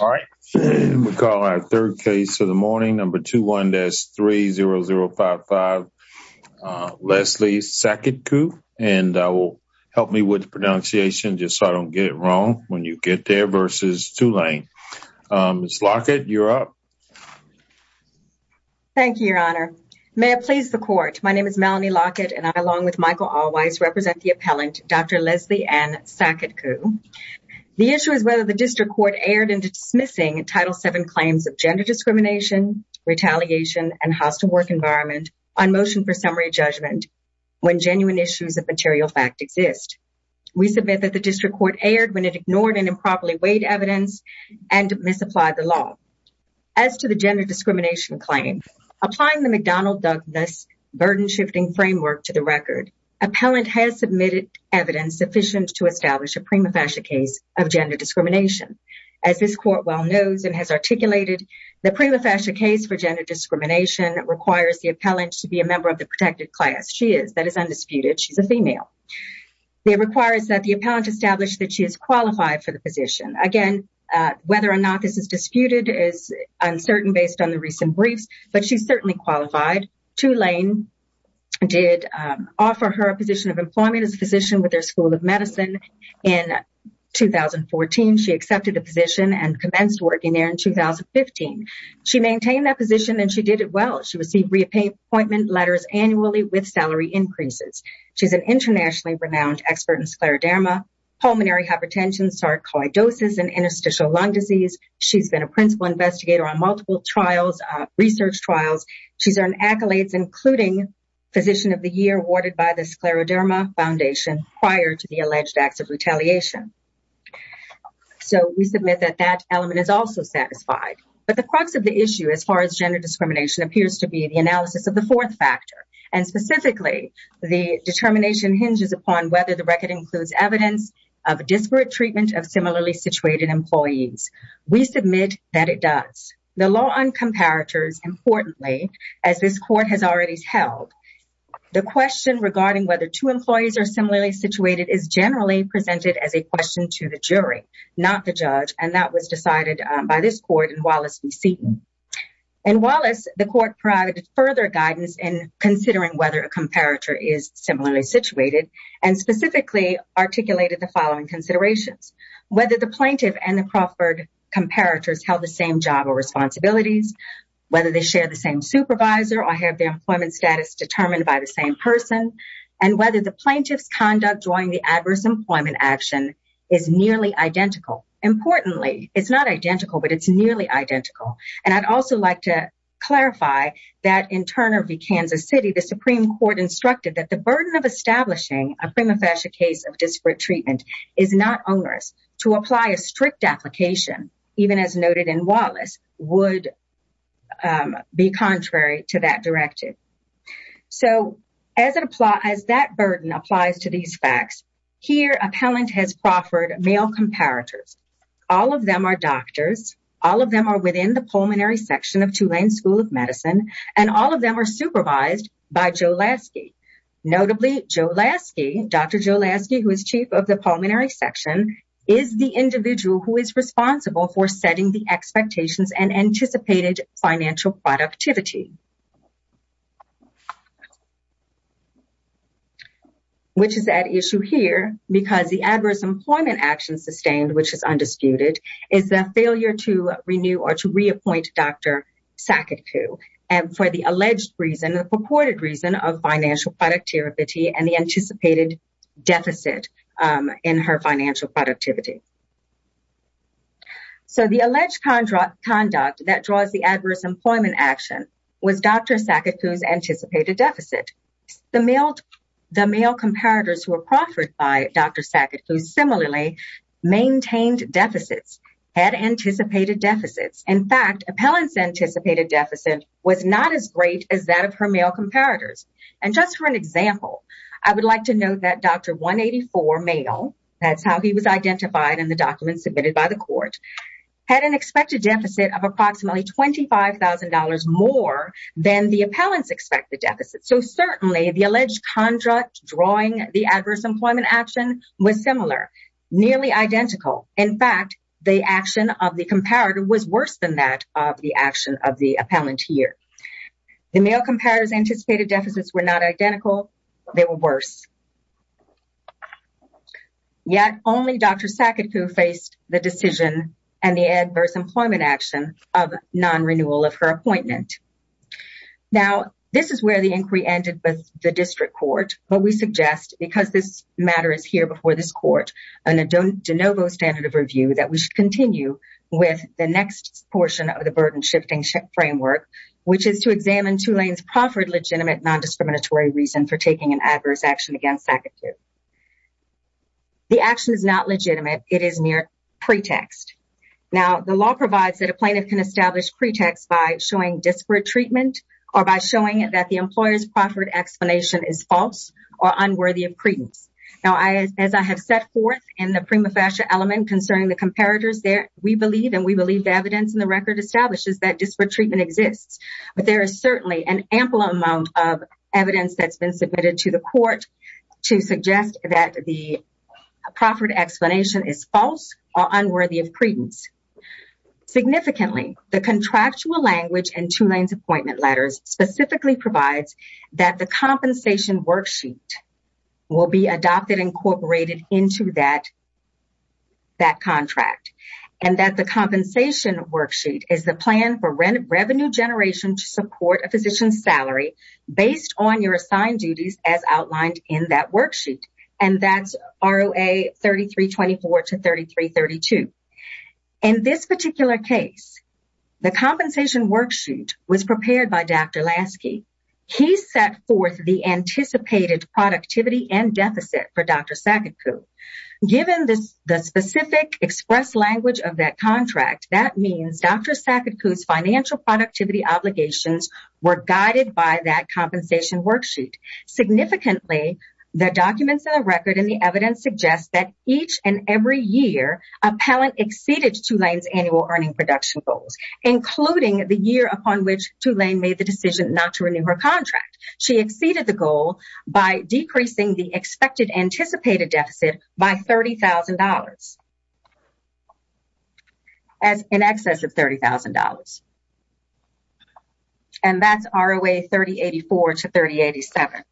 All right we call our third case of the morning number 21-30055 Leslie Saketkoo and I will help me with the pronunciation just so I don't get it wrong when you get there versus Tulane. Ms. Lockett you're up. Thank you your honor. May it please the court my name is Melanie Lockett and I along with Michael Alwise represent the appellant Dr. Leslie Ann Saketkoo. The issue is whether the title 7 claims of gender discrimination retaliation and hostile work environment on motion for summary judgment when genuine issues of material fact exist. We submit that the district court erred when it ignored and improperly weighed evidence and misapplied the law. As to the gender discrimination claim applying the McDonnell-Douglas burden shifting framework to the record appellant has submitted evidence sufficient to establish a prima facie case of gender discrimination. As this court well knows and has articulated the prima facie case for gender discrimination requires the appellant to be a member of the protected class. She is that is undisputed she's a female. It requires that the appellant establish that she is qualified for the position. Again whether or not this is disputed is uncertain based on the recent briefs but she's certainly qualified. Tulane did offer her a position of employment as a physician with 2014. She accepted the position and commenced working there in 2015. She maintained that position and she did it well. She received reappointment letters annually with salary increases. She's an internationally renowned expert in scleroderma, pulmonary hypertension, sarcoidosis, and interstitial lung disease. She's been a principal investigator on multiple trials research trials. She's earned accolades including physician of the year awarded by the scleroderma foundation prior to the alleged acts of retaliation. So we submit that that element is also satisfied but the crux of the issue as far as gender discrimination appears to be the analysis of the fourth factor and specifically the determination hinges upon whether the record includes evidence of disparate treatment of similarly situated employees. We submit that it does. The law on comparators importantly as this court has already held the question regarding whether two employees are similarly situated is generally presented as a question to the jury not the judge and that was decided by this court in Wallace v. Seton. In Wallace the court provided further guidance in considering whether a comparator is similarly situated and specifically articulated the following considerations. Whether the plaintiff and the Crawford comparators held the same job or responsibilities, whether they share the same supervisor or have their employment status determined by the same person and whether the plaintiff's conduct during the adverse employment action is nearly identical. Importantly it's not identical but it's nearly identical and I'd also like to clarify that in Turner v. Kansas City the Supreme Court instructed that the burden of establishing a prima facie case of disparate treatment is not onerous to apply a strict application even as noted in Wallace would be contrary to that directive. So as it applies that burden applies to these facts here appellant has Crawford male comparators all of them are doctors all of them are within the pulmonary section of Tulane School of Medicine and all of them are supervised by Joe Lasky. Notably Joe Lasky, Dr. Joe Lasky who is chief of the pulmonary section is the individual who is responsible for setting the expectations and anticipated financial productivity. Which is at issue here because the adverse employment action sustained which is undisputed is the failure to renew or to reappoint Dr. Saketku and for the alleged reason the purported of financial productivity and the anticipated deficit in her financial productivity. So the alleged conduct that draws the adverse employment action was Dr. Saketku's anticipated deficit. The male the male comparators who were Crawford by Dr. Saketku similarly maintained deficits had anticipated deficits in fact appellants anticipated deficit was not as as that of her male comparators and just for an example I would like to note that Dr. 184 male that's how he was identified in the document submitted by the court had an expected deficit of approximately $25,000 more than the appellants expected deficit. So certainly the alleged contract drawing the adverse employment action was similar nearly identical in fact the action of the comparator was worse than that of the action of the appellant here. The male comparators anticipated deficits were not identical they were worse. Yet only Dr. Saketku faced the decision and the adverse employment action of non-renewal of her appointment. Now this is where the inquiry ended with the district court but we suggest because this matter is here before this court and a de novo standard of review that we should continue with the next portion of the burden shifting framework which is to examine Tulane's Crawford legitimate non-discriminatory reason for taking an adverse action against Saketku. The action is not legitimate it is mere pretext. Now the law provides that a plaintiff can establish pretext by showing disparate treatment or by showing that the employer's Crawford explanation is false or unworthy of credence. Now as I have set forth in the prima facie element concerning the comparators there we believe and we believe the evidence in the record establishes that disparate treatment exists but there is certainly an ample amount of evidence that's been submitted to the court to suggest that the Crawford explanation is false or unworthy of credence. Significantly the contractual language in Tulane's appointment letters specifically provides that the compensation worksheet will be adopted incorporated into that that contract and that the compensation worksheet is the plan for revenue generation to support a physician's salary based on your assigned duties as outlined in that worksheet and that's ROA 3324 to 3332. In this particular case the compensation worksheet was prepared by Dr. Lasky. He set forth the anticipated productivity and deficit for Dr. Saketku. Given this the specific express language of that contract that means Dr. Saketku's financial productivity obligations were guided by that compensation worksheet. Significantly the documents in the evidence suggest that each and every year appellant exceeded Tulane's annual earning production goals including the year upon which Tulane made the decision not to renew her contract. She exceeded the goal by decreasing the expected anticipated deficit by $30,000 as in excess of $30,000 and that's ROA 3084 to 3087.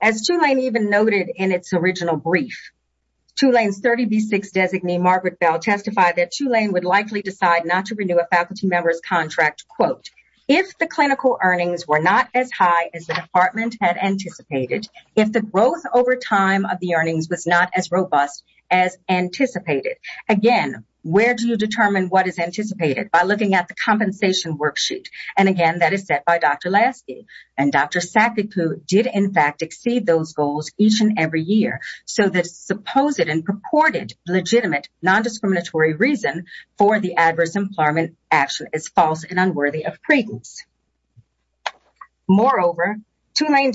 As Tulane even noted in its original brief Tulane's 30b6 designee Margaret Bell testified that Tulane would likely decide not to renew a faculty member's contract quote if the clinical earnings were not as high as the department had anticipated if the growth over time of the earnings was not as robust as anticipated again where do you determine what is anticipated by looking at the compensation worksheet and again that is set by Dr. Lasky and Dr. Saketku. Did in fact exceed those goals each and every year so that supposed and purported legitimate non-discriminatory reason for the adverse employment action is false and unworthy of credence. Moreover Tulane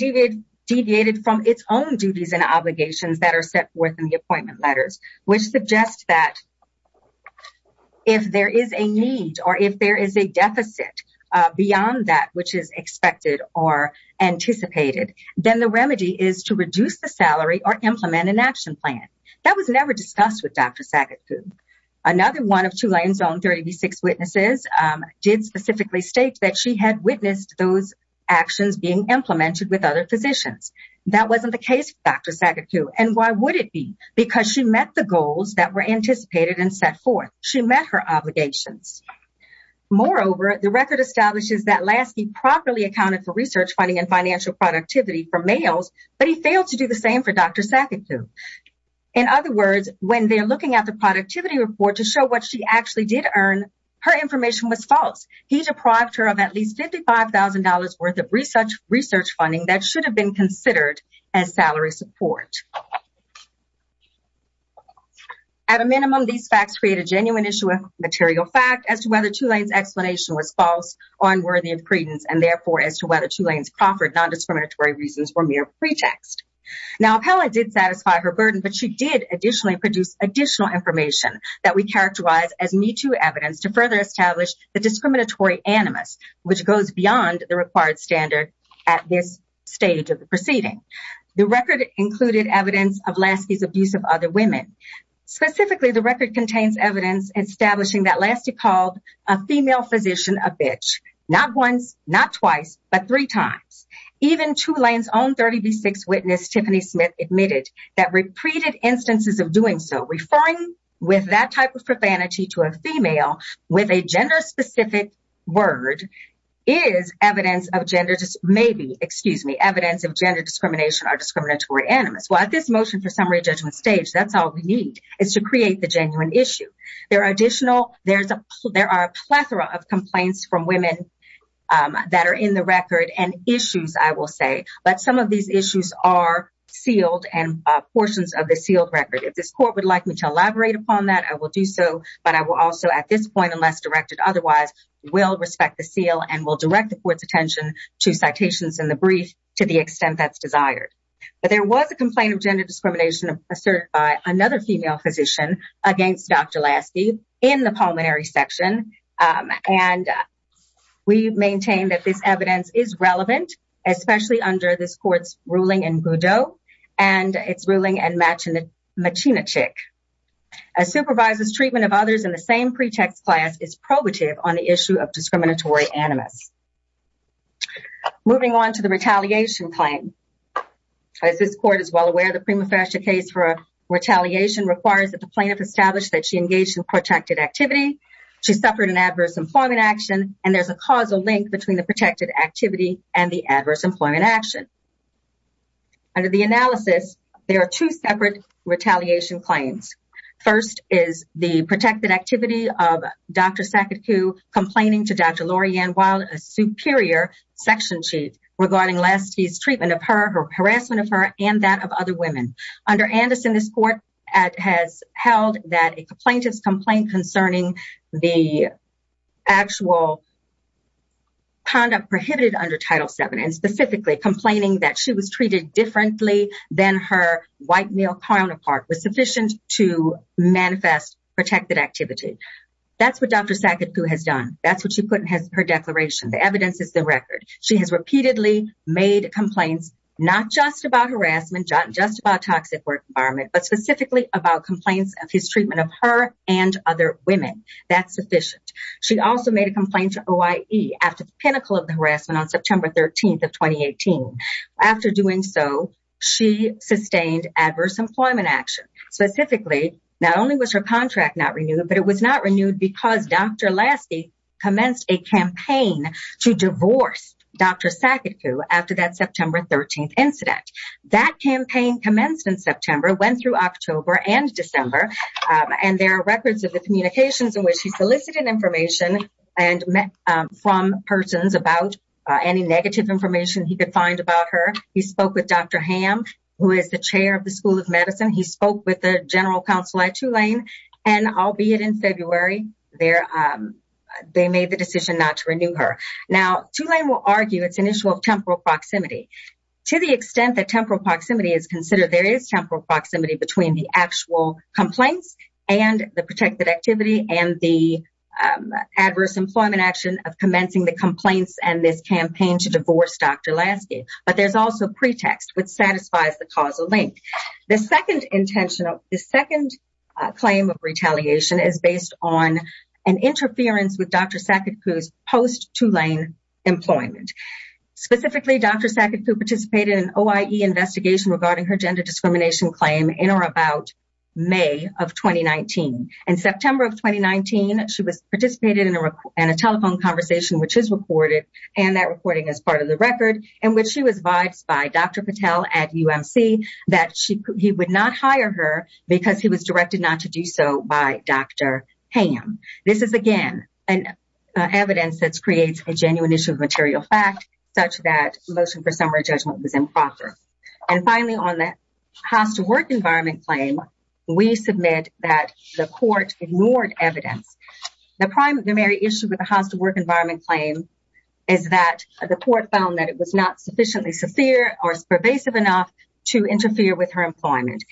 deviated from its own duties and obligations that are set forth in the appointment letters which suggests that if there is a need or if there is a deficit beyond that which is expected or anticipated then the remedy is to reduce the salary or implement an action plan that was never discussed with Dr. Saketku. Another one of Tulane's own 30b6 witnesses did specifically state that she had witnessed those actions being implemented with other physicians that wasn't the case for Dr. Saketku and why would it be because she met the goals that were anticipated and set forth she met her obligations. Moreover the record establishes that Lasky properly accounted for research funding and financial productivity for males but he failed to do the same for Dr. Saketku. In other words when they're looking at the productivity report to show what she actually did earn her information was false. He deprived her of at least $55,000 worth of research funding that should have been considered as salary support. At a minimum these facts create a genuine issue of material fact as to whether Tulane's explanation was false or unworthy of credence and therefore as to whether Tulane's Crawford non-discriminatory reasons were mere pretext. Now Appella did satisfy her burden but she did additionally produce additional information that we characterize as Me Too evidence to further establish the discriminatory animus which goes beyond the required standard at this stage of the proceeding. The record included evidence of Lasky's abuse of other women. Specifically the record contains evidence establishing that Lasky called a female physician a bitch not once not twice but three times. Even Tulane's own 30b6 witness Tiffany Smith admitted that repeated instances of doing so referring with that type of profanity to a female with a gender-specific word is evidence of gender maybe excuse me evidence of gender discrimination or discriminatory animus. Well at this motion for issue. There are additional there's a there are a plethora of complaints from women that are in the record and issues I will say but some of these issues are sealed and portions of the sealed record. If this court would like me to elaborate upon that I will do so but I will also at this point unless directed otherwise will respect the seal and will direct the court's attention to citations in the brief to the extent that's desired. But there was a complaint of gender discrimination asserted by another female physician against Dr. Lasky in the pulmonary section and we maintain that this evidence is relevant especially under this court's ruling in Goudeau and its ruling in Machinachick. A supervisor's treatment of others in the same pretext class is probative on the issue of discriminatory animus. Moving on to the retaliation claim. As this court is well aware the prima facie case for a retaliation requires that the plaintiff establish that she engaged in protracted activity. She suffered an adverse employment action and there's a causal link between the protected activity and the adverse employment action. Under the analysis there are two separate retaliation claims. First is the protected activity of Dr. Saketku complaining to Dr. Lorianne Wilde a superior section chief regarding treatment of her, her harassment of her and that of other women. Under Anderson this court has held that a plaintiff's complaint concerning the actual conduct prohibited under Title VII and specifically complaining that she was treated differently than her white male counterpart was sufficient to manifest protected activity. That's what Dr. Saketku has done. That's what she put in her declaration. The evidence is the record. She has repeatedly made complaints not just about harassment, not just about toxic work environment but specifically about complaints of his treatment of her and other women. That's sufficient. She also made a complaint to OIE after the pinnacle of the harassment on September 13th of 2018. After doing so she sustained adverse employment action. Specifically not only was her contract not renewed but it was not renewed because Dr. Lasky commenced a campaign to divorce Dr. Saketku after that September 13th incident. That campaign commenced in September went through October and December and there are records of the communications in which he solicited information and met from persons about any negative information he could find about her. He spoke with Dr. Ham who is the chair of the School of Medicine. He spoke with the counsel at Tulane and albeit in February they made the decision not to renew her. Tulane will argue it's an issue of temporal proximity. To the extent that temporal proximity is considered there is temporal proximity between the actual complaints and the protected activity and the adverse employment action of commencing the complaints and this campaign to divorce Dr. Lasky. But there's pretext which satisfies the causal link. The second claim of retaliation is based on an interference with Dr. Saketku's post Tulane employment. Specifically Dr. Saketku participated in an OIE investigation regarding her gender discrimination claim in or about May of 2019. In September of 2019 she was participated in a telephone conversation which is recorded and that recording is part of the record in which she was advised by Dr. Patel at UMC that he would not hire her because he was directed not to do so by Dr. Ham. This is again an evidence that creates a genuine issue of material fact such that motion for summary judgment was improper. And finally on the house to work environment claim we submit that the court found that it was not sufficiently severe or pervasive enough to interfere with her employment.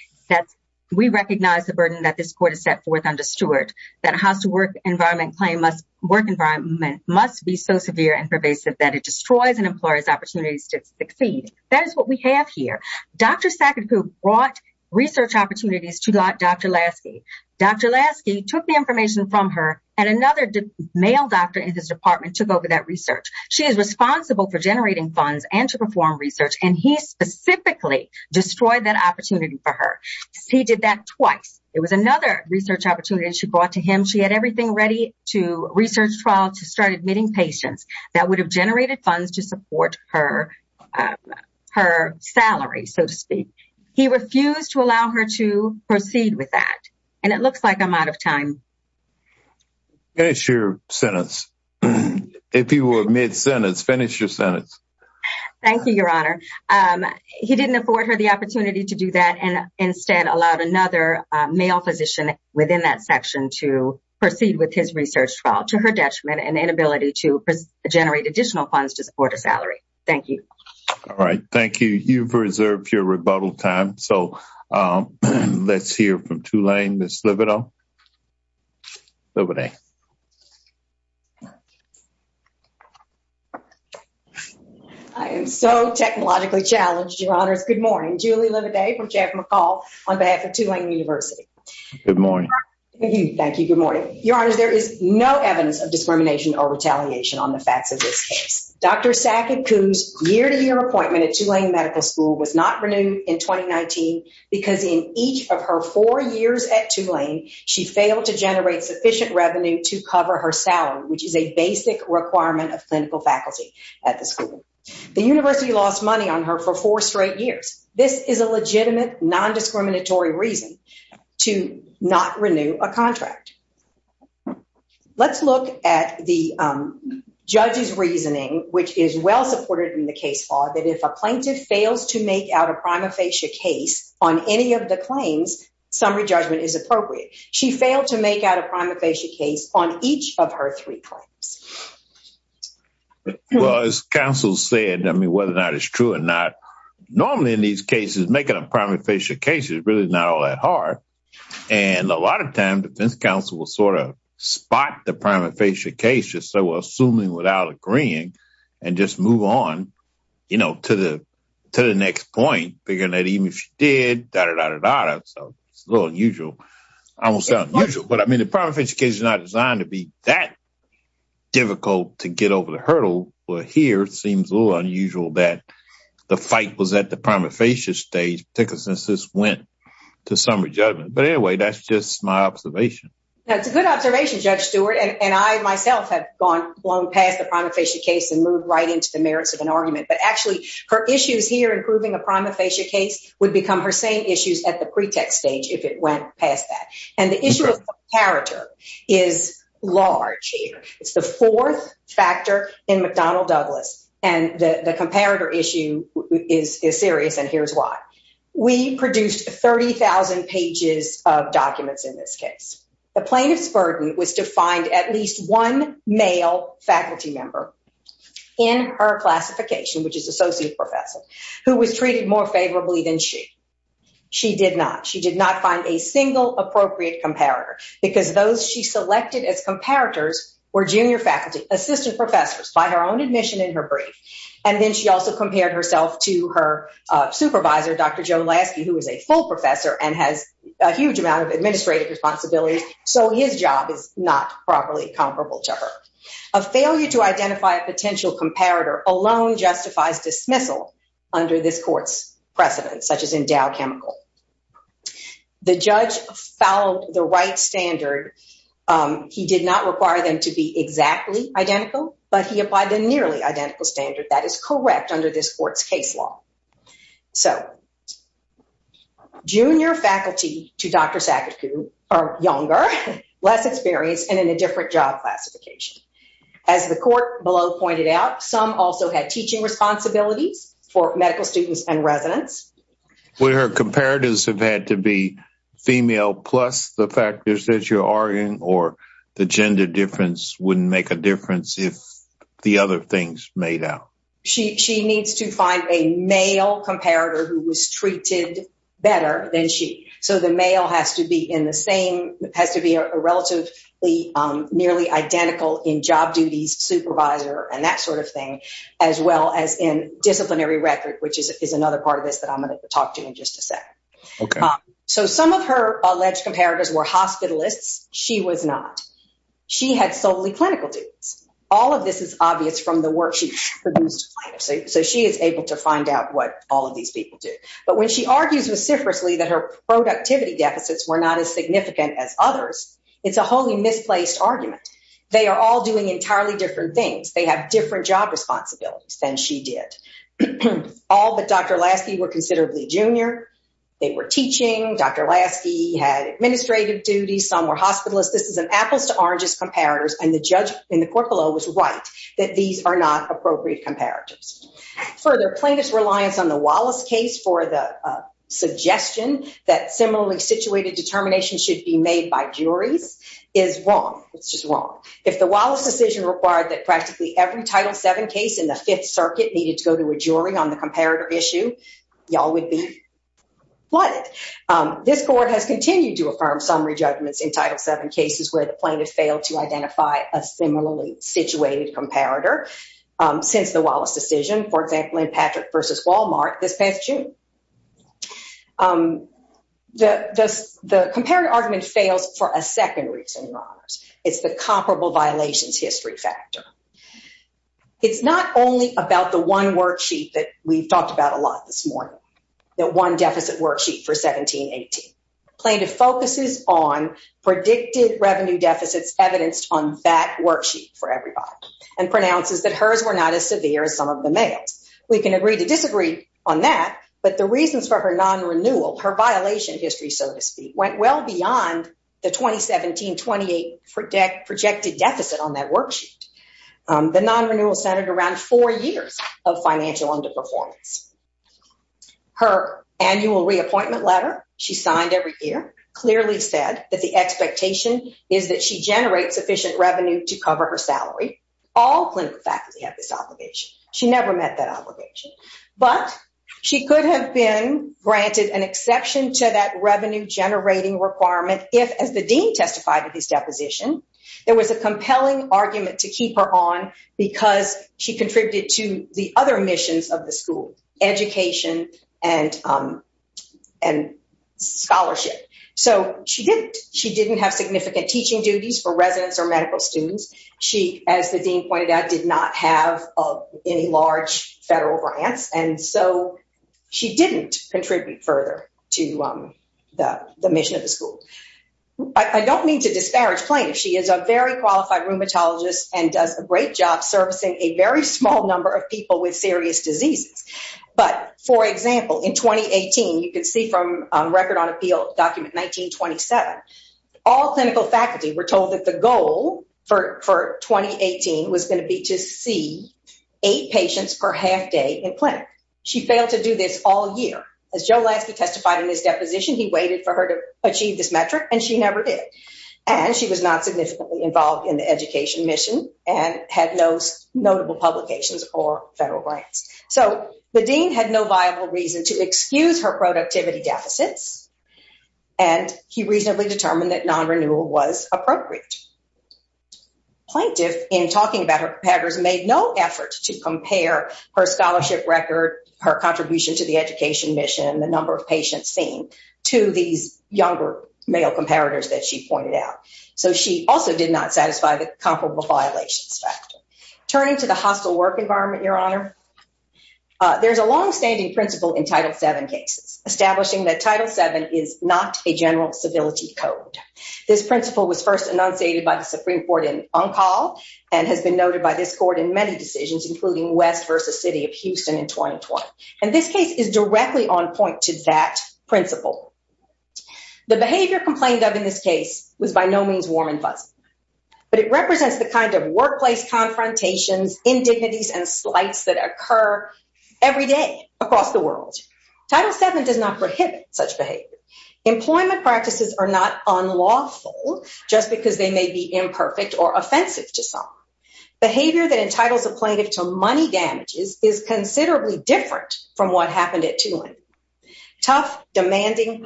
We recognize the burden that this court has set forth under Stewart that a house to work environment claim must be so severe and pervasive that it destroys an employer's opportunities to succeed. That is what we have here. Dr. Saketku brought research opportunities to Dr. Lasky. Dr. Lasky took the information from her and another male doctor in his department took that research. She is responsible for generating funds and to perform research and he specifically destroyed that opportunity for her. He did that twice. It was another research opportunity she brought to him. She had everything ready to research trial to start admitting patients that would have generated funds to support her salary so to speak. He refused to allow her to do that. He didn't afford her the opportunity to do that and instead allowed another male physician within that section to proceed with his research trial to her detriment and inability to generate additional funds to support a salary. Thank you. All right. Thank you. You've reserved your rebuttal time. So let's hear from Tulane, Ms. Lividale. I am so technologically challenged, your honors. Good morning. Julie Lividale from Jeff McCall on behalf of Tulane University. Good morning. Thank you. Good morning. Your honors, there is no evidence of discrimination or retaliation on the facts of this case. Dr. Saketku's year-to-year appointment at Tulane Medical School was not renewed in 2019 because in each of her four years at Tulane, she failed to generate sufficient revenue to cover her salary, which is a basic requirement of clinical faculty at the school. The university lost money on her for four straight years. This is a legitimate non-discriminatory reason to not renew a contract. Let's look at the if a plaintiff fails to make out a prima facie case on any of the claims, summary judgment is appropriate. She failed to make out a prima facie case on each of her three claims. Well, as counsel said, I mean, whether or not it's true or not, normally in these cases, making a prima facie case is really not all that hard. And a lot of times defense counsel will sort of spot the prima facie case just so assuming without agreeing and just move on, you know, to the next point, figuring that even if she did, so it's a little unusual. I won't say unusual, but I mean, the prima facie case is not designed to be that difficult to get over the hurdle. But here, it seems a little unusual that the fight was at the prima facie stage, particularly since this went to summary judgment. But anyway, that's just my observation. That's a good observation, Judge Stewart. And I myself have gone long past the prima facie case and moved right into the merits of an argument. But actually, her issues here in proving a prima facie case would become her same issues at the pretext stage if it went past that. And the issue of comparator is large here. It's the fourth factor in McDonnell-Douglas. And the comparator issue is serious, and here's why. We produced 30,000 pages of documents in this case. The plaintiff's burden was to find at least one male faculty member in her classification, which is associate professor, who was treated more favorably than she. She did not. She did not find a single appropriate comparator because those she selected as comparators were junior faculty, assistant professors by her own admission in her brief. And then she also compared herself to her supervisor, Dr. Joe Lasky, who is a full professor and has a huge amount of administrative responsibilities. So his job is not properly comparable to her. A failure to identify a potential comparator alone justifies dismissal under this court's precedent, such as endowed chemical. The judge followed the right standard. He did not require them to be exactly identical, but he applied the nearly identical standard that is correct under this court's case law. So junior faculty to Dr. Sackett-Coo are younger, less experienced, and in a different job classification. As the court below pointed out, some also had teaching responsibilities for medical students and residents. Would her comparatives have had to be female plus the factors that you're arguing, or the gender difference wouldn't make a difference if the other things made out? She needs to find a male comparator who was treated better than she. So the male has to be in the same, has to be a relatively nearly identical in job duties, supervisor, and that sort of thing, as well as in disciplinary record, which is another part of this that I'm going to talk to in just a second. Okay. So some of her alleged comparators were hospitalists. She was not. She had solely clinical duties. All of this is obvious from the work she produced. So she is able to find out what all of these people do. But when she argues vociferously that her productivity deficits were not as significant as others, it's a wholly misplaced argument. They are all doing entirely different things. They have different job responsibilities than she did. All but Dr. Lasky were considerably junior. They were teaching. Dr. Lasky had administrative duties. Some were hospitalists. This is an apples to oranges comparators. And the judge in the court below was right that these are not appropriate comparators. Further plaintiff's reliance on the Wallace case for the suggestion that similarly situated determination should be made by juries is wrong. It's just wrong. If the Wallace decision required that practically every Title VII case in the Fifth Circuit needed to go to a jury on comparator issue, y'all would be flooded. This court has continued to affirm summary judgments in Title VII cases where the plaintiff failed to identify a similarly situated comparator since the Wallace decision, for example, in Patrick v. Walmart this past June. The comparator argument fails for a second reason, Your Honors. It's the comparable violations talked about a lot this morning. That one deficit worksheet for 17-18. Plaintiff focuses on predicted revenue deficits evidenced on that worksheet for everybody and pronounces that hers were not as severe as some of the males. We can agree to disagree on that, but the reasons for her non-renewal, her violation history, so to speak, went well beyond the 2017-18 projected deficit on that worksheet. The non-renewal centered around four years of financial underperformance. Her annual reappointment letter she signed every year clearly said that the expectation is that she generates sufficient revenue to cover her salary. All clinical faculty have this obligation. She never met that obligation, but she could have been granted an exception to that revenue generating requirement if, as the dean testified at his deposition, there was a of the school, education and scholarship. So she didn't have significant teaching duties for residents or medical students. She, as the dean pointed out, did not have any large federal grants, and so she didn't contribute further to the mission of the school. I don't mean to disparage Plaintiff. She is a very qualified rheumatologist and does a great job servicing a very small number of people with serious diseases. But for example, in 2018, you can see from Record on Appeal document 1927, all clinical faculty were told that the goal for 2018 was going to be to see eight patients per half day in Plaintiff. She failed to do this all year. As Joe Lasky testified in his deposition, he waited for her to achieve this metric, and she never did. And she was not significantly involved in the education mission and had no notable publications or federal grants. So the dean had no viable reason to excuse her productivity deficits, and he reasonably determined that non-renewal was appropriate. Plaintiff, in talking about her competitors, made no effort to compare her scholarship record, her contribution to the education mission, the number of patients seen, to these younger male comparators that she pointed out. So she also did not satisfy the comparable violations factor. Turning to the hostile work environment, Your Honor, there's a long-standing principle in Title VII cases establishing that Title VII is not a general civility code. This principle was first enunciated by the Supreme Court in Uncal and has been noted by this court in many decisions, including West v. City of Houston in 2020. And this case is The behavior complained of in this case was by no means warm and fuzzy, but it represents the kind of workplace confrontations, indignities, and slights that occur every day across the world. Title VII does not prohibit such behavior. Employment practices are not unlawful just because they may be imperfect or offensive to some. Behavior that entitles a plaintiff to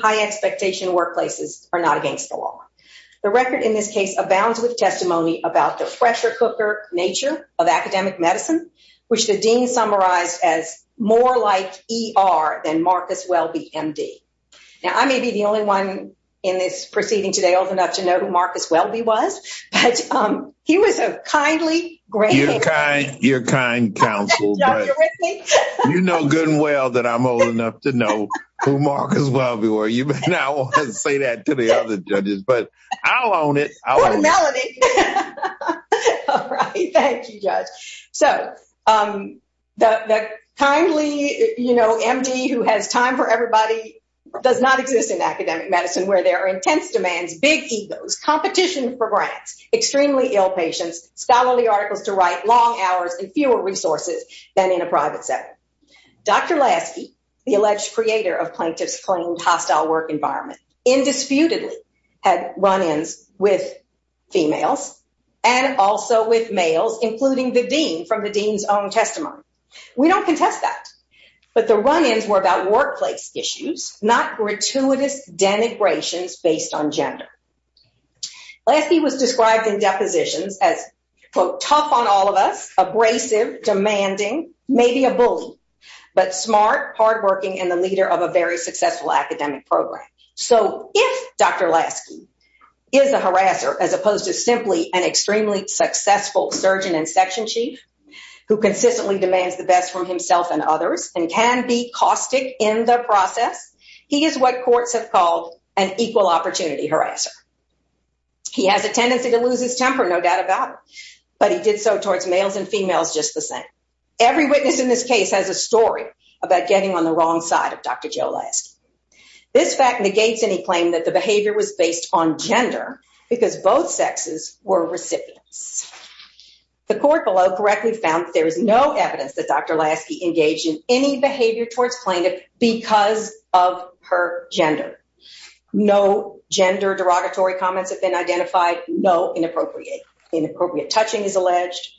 high-expectation workplaces are not against the law. The record in this case abounds with testimony about the fresher-cooker nature of academic medicine, which the dean summarized as more like ER than Marcus Welby, MD. Now, I may be the only one in this proceeding today old enough to know who Marcus Welby was, but he was a kindly great man. You're kind counsel. You know good and well that I'm old enough to know who Marcus Welby was. You may not want to say that to the other judges, but I'll own it. Thank you, Judge. So, the kindly, you know, MD who has time for everybody does not exist in academic medicine where there are intense demands, big egos, competition for grants, extremely ill patients, scholarly articles to write, long hours, and fewer resources than in a private setting. Dr. Lasky, the alleged creator of plaintiffs' claimed hostile work environment, indisputably had run-ins with females and also with males, including the dean from the dean's own testimony. We don't contest that, but the run-ins were about workplace issues, not gratuitous denigrations based on gender. Lasky was described in depositions as, quote, tough on all of us, abrasive, demanding, maybe a bully, but smart, hardworking, and the leader of a very successful academic program. So, if Dr. Lasky is a harasser, as opposed to simply an extremely successful surgeon and section chief who consistently demands the best from himself and others and can be caustic in the process, he is what courts have called an equal opportunity harasser. He has a tendency to lose his temper, no doubt about it, but he did so towards males and females just the same. Every witness in this case has a story about getting on the wrong side of Dr. Joe Lasky. This fact negates any claim that the behavior was based on gender, because both sexes were recipients. The court below correctly found that there is no evidence that Dr. Lasky engaged in any behavior towards her gender. No gender derogatory comments have been identified. No inappropriate touching is alleged.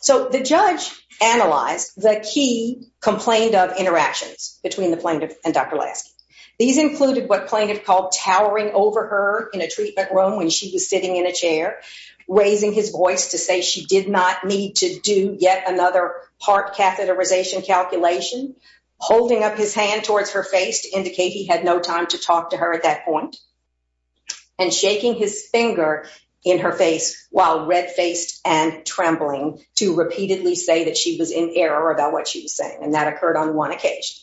So, the judge analyzed the key complained of interactions between the plaintiff and Dr. Lasky. These included what plaintiff called towering over her in a treatment room when she was sitting in a chair, raising his voice to say she did not need to do yet another part catheterization calculation, holding up his hand towards her face to indicate he had no time to talk to her at that point, and shaking his finger in her face while red-faced and trembling to repeatedly say that she was in error about what she was saying, and that occurred on one occasion.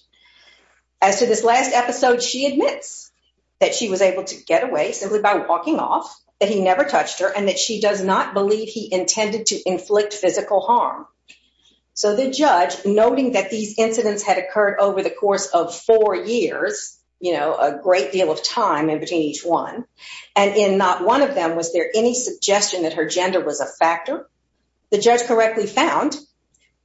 As to this last episode, she admits that she was able to get away simply by walking off, that he never touched her, and that she does not believe he intended to inflict physical harm. So, the judge, noting that these incidents had occurred over the course of four years, you know, a great deal of time in between each one, and in not one of them was there any suggestion that her gender was a factor, the judge correctly found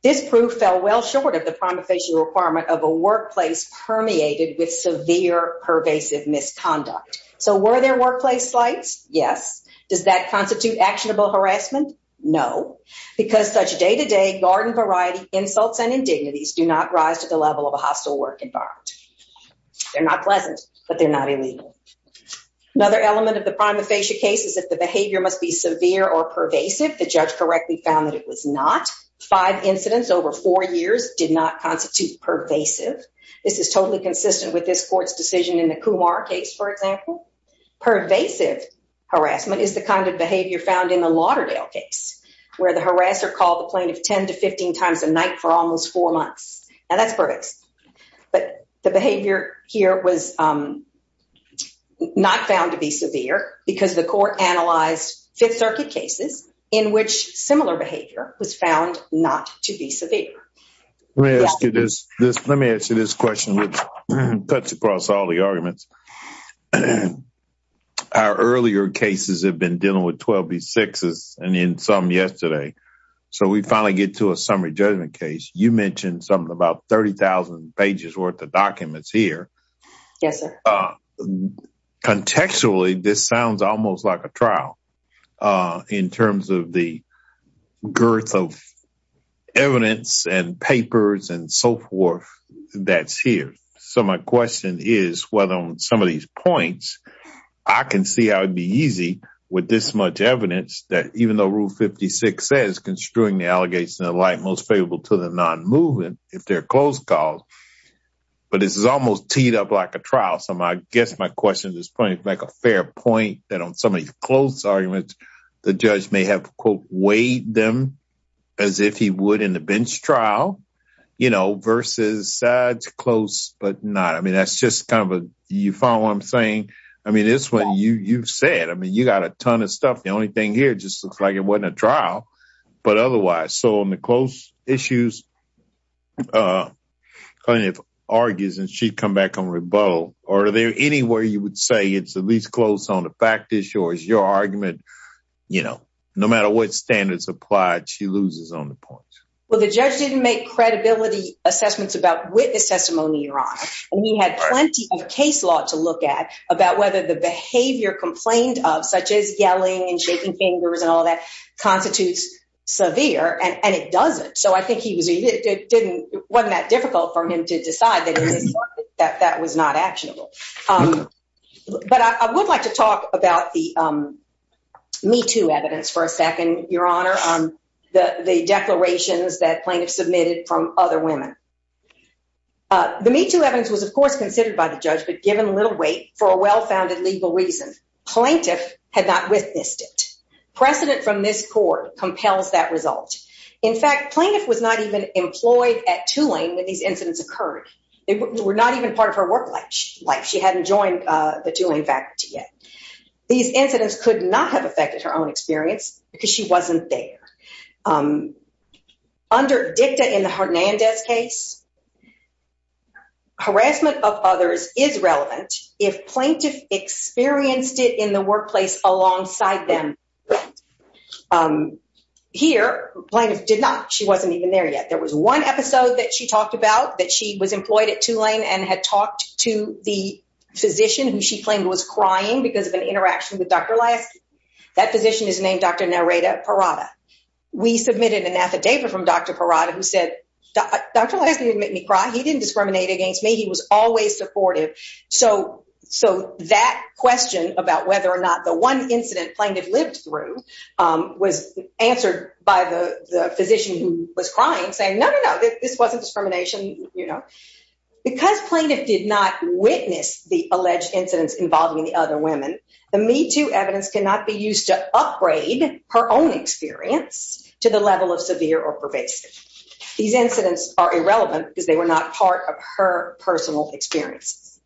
this proof fell well short of the prima facie requirement of a workplace permeated with severe pervasive misconduct. So, were there workplace flights? Yes. Does that constitute actionable harassment? No, because such day-to-day garden variety insults and indignities do not rise to the level of a hostile work environment. They're not pleasant, but they're not illegal. Another element of the prima facie case is that the behavior must be severe or pervasive. The judge correctly found that it was not. Five incidents over four years did not constitute pervasive. This is totally consistent with this court's decision in the Kumar case, for example. Pervasive harassment is the kind of behavior found in the Lauderdale case, where the harasser called the plaintiff 10 to 15 times a night for almost four months. Now, that's pervasive, but the behavior here was not found to be severe because the court analyzed Fifth Circuit cases in which similar behavior was found not to be severe. Let me ask you this question, which cuts across all the arguments. Our earlier cases have been dealing with 12B6s and in some yesterday, so we finally get to a summary judgment case. You mentioned something about 30,000 pages worth of documents here. Yes, sir. Contextually, this sounds almost like a trial in terms of the girth of evidence and papers and so forth that's here. So my question is whether on some of these points, I can see how it would be easy with this much evidence that even though Rule 56 says construing the allegations of the like most favorable to the non-movement, if they're closed cause, but this is almost teed up like a trial. So I guess my question at this point is a fair point that on some of these close arguments, the judge may have, quote, weighed them as if he would in the bench trial, you know, versus sides close but not. I mean, that's just kind of a, you follow what I'm saying? I mean, this one, you've said, I mean, you got a ton of stuff. The only thing here just looks like it wasn't a trial, but otherwise. So on the close issues, the plaintiff argues and she'd come back on rebuttal. Or are there anywhere you would say it's at least close on the fact issue or is your argument, you know, no matter what standards applied, she loses on the points. Well, the judge didn't make credibility assessments about witness testimony, Your Honor. And he had plenty of case law to look at about whether the behavior complained of such as yelling and shaking fingers and all that constitutes severe and it doesn't. So I think it wasn't that difficult for him to decide that that was not actionable. But I would like to talk about the Me Too evidence for a second, Your Honor. The declarations that plaintiffs submitted from other women. The Me Too evidence was, of course, considered by the judge but given little weight for a well-founded legal reason. Plaintiff had not witnessed it. Precedent from this court compels that result. In fact, plaintiff was not even she hadn't joined the Tulane faculty yet. These incidents could not have affected her own experience because she wasn't there. Under dicta in the Hernandez case, harassment of others is relevant if plaintiff experienced it in the workplace alongside them. Here, plaintiff did not. She wasn't even there yet. There was one episode that she talked about that she was employed at Tulane and had talked to the physician who she claimed was crying because of an interaction with Dr. Lasky. That physician is named Dr. Narita Parada. We submitted an affidavit from Dr. Parada who said, Dr. Lasky didn't make me cry. He didn't discriminate against me. He was always supportive. So that question about whether or not the one incident plaintiff lived through was answered by the physician who was crying saying, no, no, no, this wasn't discrimination. Because plaintiff did not witness the alleged incidents involving the other women, the Me Too evidence cannot be used to upgrade her own experience to the level of severe or pervasive. These incidents are irrelevant because they were not part of her personal experiences.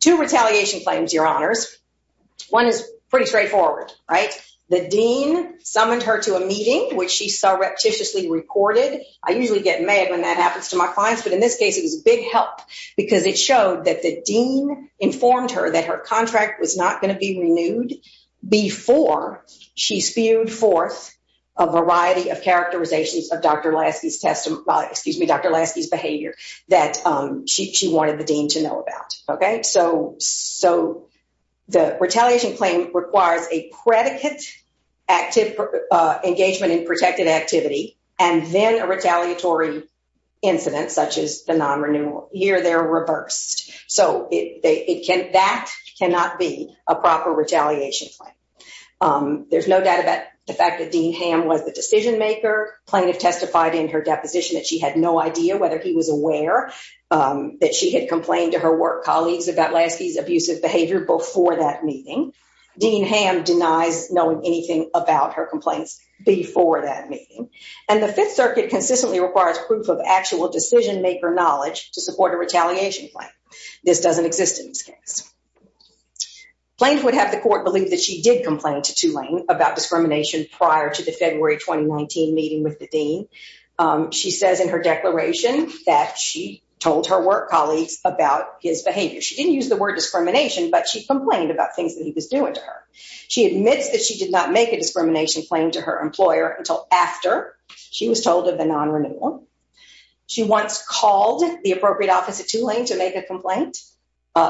Two retaliation claims, your honors. One is pretty straightforward. The dean summoned her to a meeting. In this case, it was a big help because it showed that the dean informed her that her contract was not going to be renewed before she spewed forth a variety of characterizations of Dr. Lasky's behavior that she wanted the dean to know about. So the retaliation claim requires a engagement in protected activity and then a retaliatory incident such as the non-renewal. Here they're reversed. So that cannot be a proper retaliation claim. There's no doubt about the fact that Dean Hamm was the decision maker. Plaintiff testified in her deposition that she had no idea whether he was aware that she had complained to her work colleagues about Lasky's abusive behavior before that meeting. Dean Hamm denies knowing anything about her complaints before that meeting. And the Fifth Circuit consistently requires proof of actual decision-maker knowledge to support a retaliation claim. This doesn't exist in this case. Plaintiff would have the court believe that she did complain to Tulane about discrimination prior to the February 2019 meeting with the dean. She says in her declaration that she told her work colleagues about his complaints about things that he was doing to her. She admits that she did not make a discrimination claim to her employer until after she was told of the non-renewal. She once called the appropriate office at Tulane to make a complaint,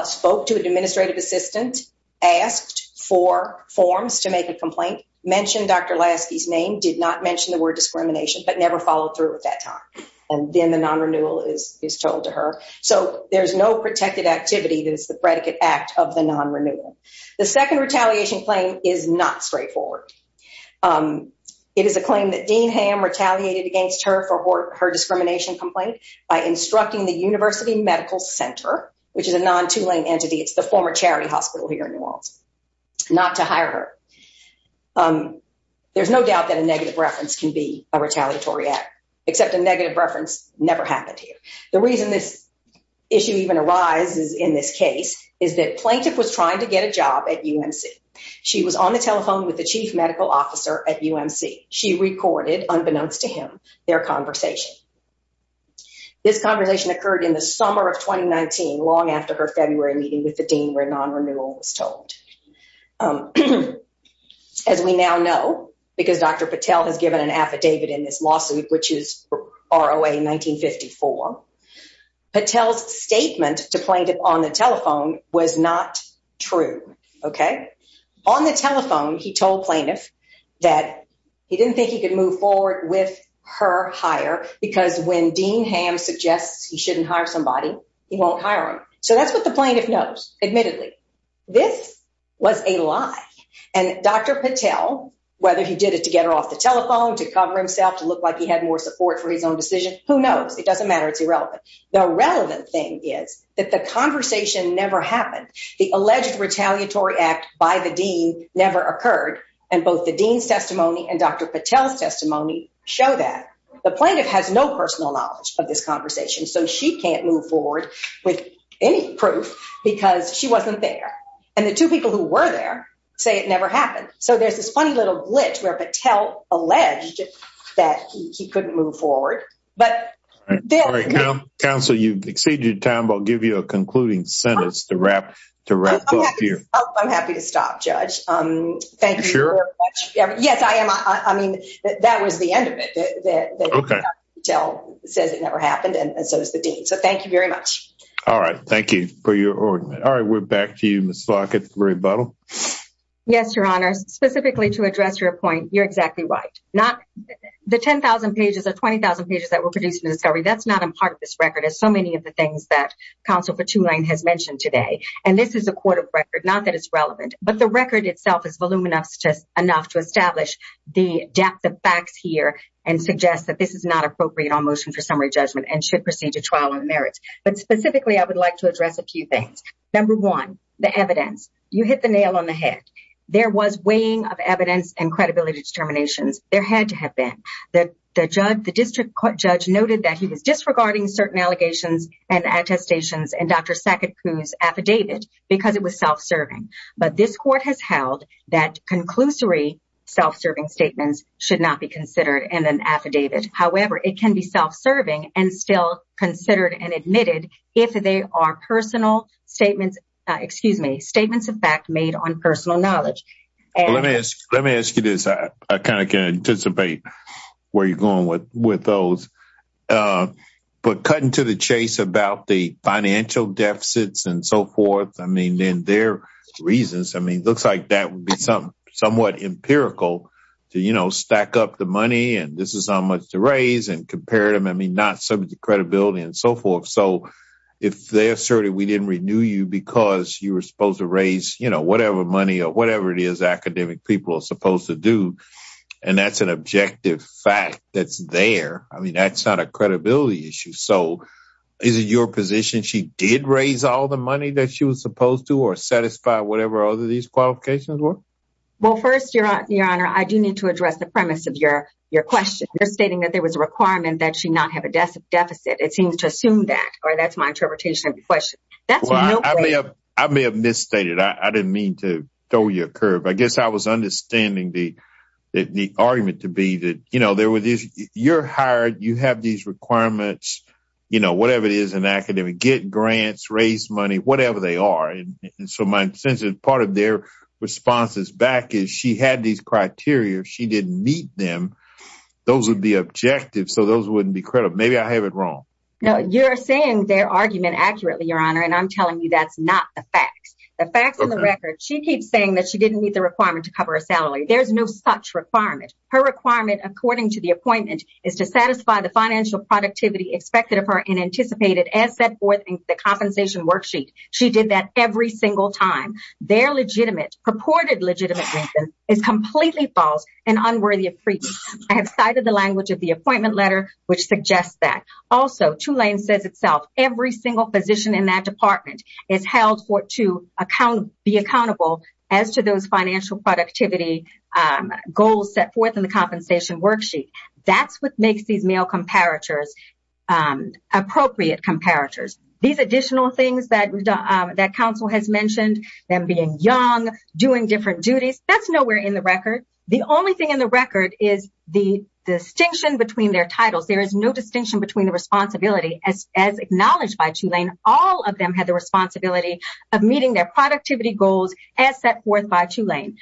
spoke to an administrative assistant, asked for forms to make a complaint, mentioned Dr. Lasky's name, did not mention the word discrimination, but never followed through at that time. And then the non-renewal is told to her. So there's no protected activity that is the predicate act of the non-renewal. The second retaliation claim is not straightforward. It is a claim that Dean Hamm retaliated against her for her discrimination complaint by instructing the University Medical Center, which is a non-Tulane entity, it's the former charity hospital here in New Orleans, not to hire her. There's no doubt that a negative reference can be a retaliatory act, except a negative reference never happened here. The reason this issue even arises in this case is that plaintiff was trying to get a job at UMC. She was on the telephone with the chief medical officer at UMC. She recorded, unbeknownst to him, their conversation. This conversation occurred in the summer of 2019, long after her February meeting with the dean where non-renewal was told. As we now know, because Dr. Patel has given an affidavit in this lawsuit, which is ROA 1954, Patel's statement to plaintiff on the telephone was not true, okay? On the telephone, he told plaintiff that he didn't think he could move forward with her hire because when Dean Hamm suggests he shouldn't hire somebody, he won't hire him. So that's what the plaintiff knows, admittedly. This was a lie. And Dr. Patel, whether he did it to get her off the telephone, to cover himself, to look like he had more support for his own decision, who knows? It doesn't matter. It's irrelevant. The relevant thing is that the conversation never happened. The alleged retaliatory act by the dean never occurred. And both the dean's testimony and Dr. Patel's testimony show that. The plaintiff has no personal knowledge of this conversation, so she can't move forward with any proof because she wasn't there. And the two people who were say it never happened. So there's this funny little glitch where Patel alleged that he couldn't move forward. But- Counsel, you've exceeded your time, but I'll give you a concluding sentence to wrap up here. I'm happy to stop, Judge. Thank you very much. Yes, I am. I mean, that was the end of it. Patel says it never happened, and so does the dean. So thank you very much. All right. Thank you for your argument. All right. We're back to you, Marie Buttle. Yes, Your Honor. Specifically to address your point, you're exactly right. Not the 10,000 pages or 20,000 pages that were produced in the discovery. That's not a part of this record. It's so many of the things that counsel for Tulane has mentioned today. And this is a court of record, not that it's relevant, but the record itself is voluminous enough to establish the depth of facts here and suggest that this is not appropriate on motion for summary judgment and should proceed to trial on merits. But specifically, I would like to address a few things. Number one, the evidence. You hit the nail on the head. There was weighing of evidence and credibility determinations. There had to have been. The district court judge noted that he was disregarding certain allegations and attestations in Dr. Sakatpour's affidavit because it was self-serving. But this court has held that conclusory self-serving statements should not be considered in an affidavit. However, it can be self-serving and still considered and admitted if they are personal statements, excuse me, statements of fact made on personal knowledge. Let me ask you this. I kind of can anticipate where you're going with those. But cutting to the chase about the financial deficits and so forth, I mean, then their reasons, I mean, it looks like that would be somewhat empirical to, you know, stack up the money and this is credibility and so forth. So if they asserted we didn't renew you because you were supposed to raise whatever money or whatever it is academic people are supposed to do. And that's an objective fact that's there. I mean, that's not a credibility issue. So is it your position? She did raise all the money that she was supposed to or satisfy whatever other these qualifications were? Well, first, Your Honor, I do need to address the premise of your question. You're requiring that she not have a deficit. It seems to assume that or that's my interpretation of the question. I may have misstated. I didn't mean to throw you a curve. I guess I was understanding the argument to be that, you know, you're hired, you have these requirements, you know, whatever it is in academic, get grants, raise money, whatever they are. So my sense is part of their response is back is she had these criteria. She didn't meet them. Those would be objective. So those wouldn't be credible. Maybe I have it wrong. No, you're saying their argument accurately, Your Honor. And I'm telling you, that's not the facts, the facts of the record. She keeps saying that she didn't meet the requirement to cover a salary. There's no such requirement. Her requirement, according to the appointment, is to satisfy the financial productivity expected of her and anticipated as set forth in the compensation worksheet. She did that every single time. Their legitimate purported legitimate is completely and unworthy of treatment. I have cited the language of the appointment letter, which suggests that. Also, Tulane says itself, every single position in that department is held to be accountable as to those financial productivity goals set forth in the compensation worksheet. That's what makes these male comparators appropriate comparators. These additional things that counsel has mentioned, them being young, doing different duties, that's nowhere in the record. The only thing in the record is the distinction between their titles. There is no distinction between the responsibility as acknowledged by Tulane. All of them had the responsibility of meeting their productivity goals as set forth by Tulane.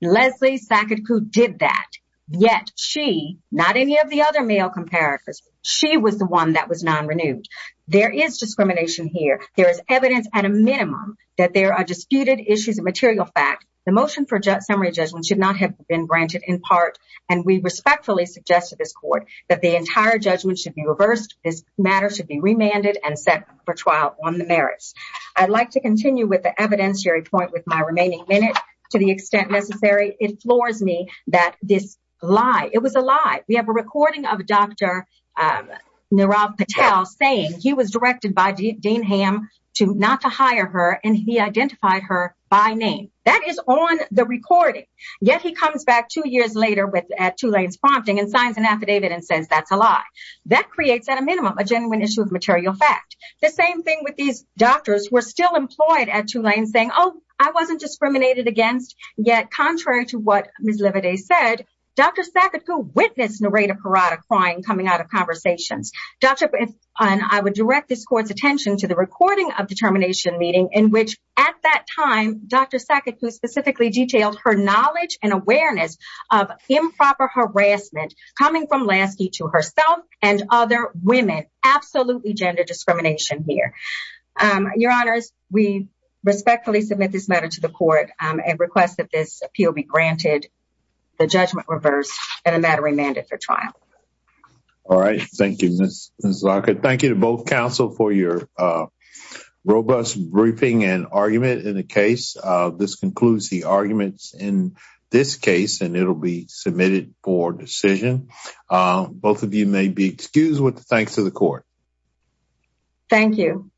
Leslie Saketku did that. Yet she, not any of the other male comparators, she was the one that was non-renewed. There is discrimination here. There is evidence at a minimum that there are disputed issues of material fact. The motion for summary judgment should not have been granted in part, and we respectfully suggest to this court that the entire judgment should be reversed. This matter should be remanded and set for trial on the merits. I'd like to continue with the evidentiary point with my remaining minute to the extent necessary. It floors me that this lie, it was a lie. We have a recording of Dr. Nirav Patel saying he was directed by Dean Ham not to hire her, and he identified her by name. That is on the recording. Yet he comes back two years later at Tulane's prompting and signs an affidavit and says that's a lie. That creates, at a minimum, a genuine issue of material fact. The same thing with these doctors who are still employed at Tulane saying, oh, I wasn't discriminated against. Yet, contrary to what Ms. Lividay said, Dr. Saketku witnessed Narita Parada crying coming out of conversations. I would direct this court's recording of the termination meeting in which, at that time, Dr. Saketku specifically detailed her knowledge and awareness of improper harassment coming from Lasky to herself and other women. Absolutely gender discrimination here. Your Honors, we respectfully submit this matter to the court and request that this appeal be granted, the judgment reversed, and the matter remanded for robust briefing and argument in the case. This concludes the arguments in this case, and it'll be submitted for decision. Both of you may be excused with thanks to the court. Thank you.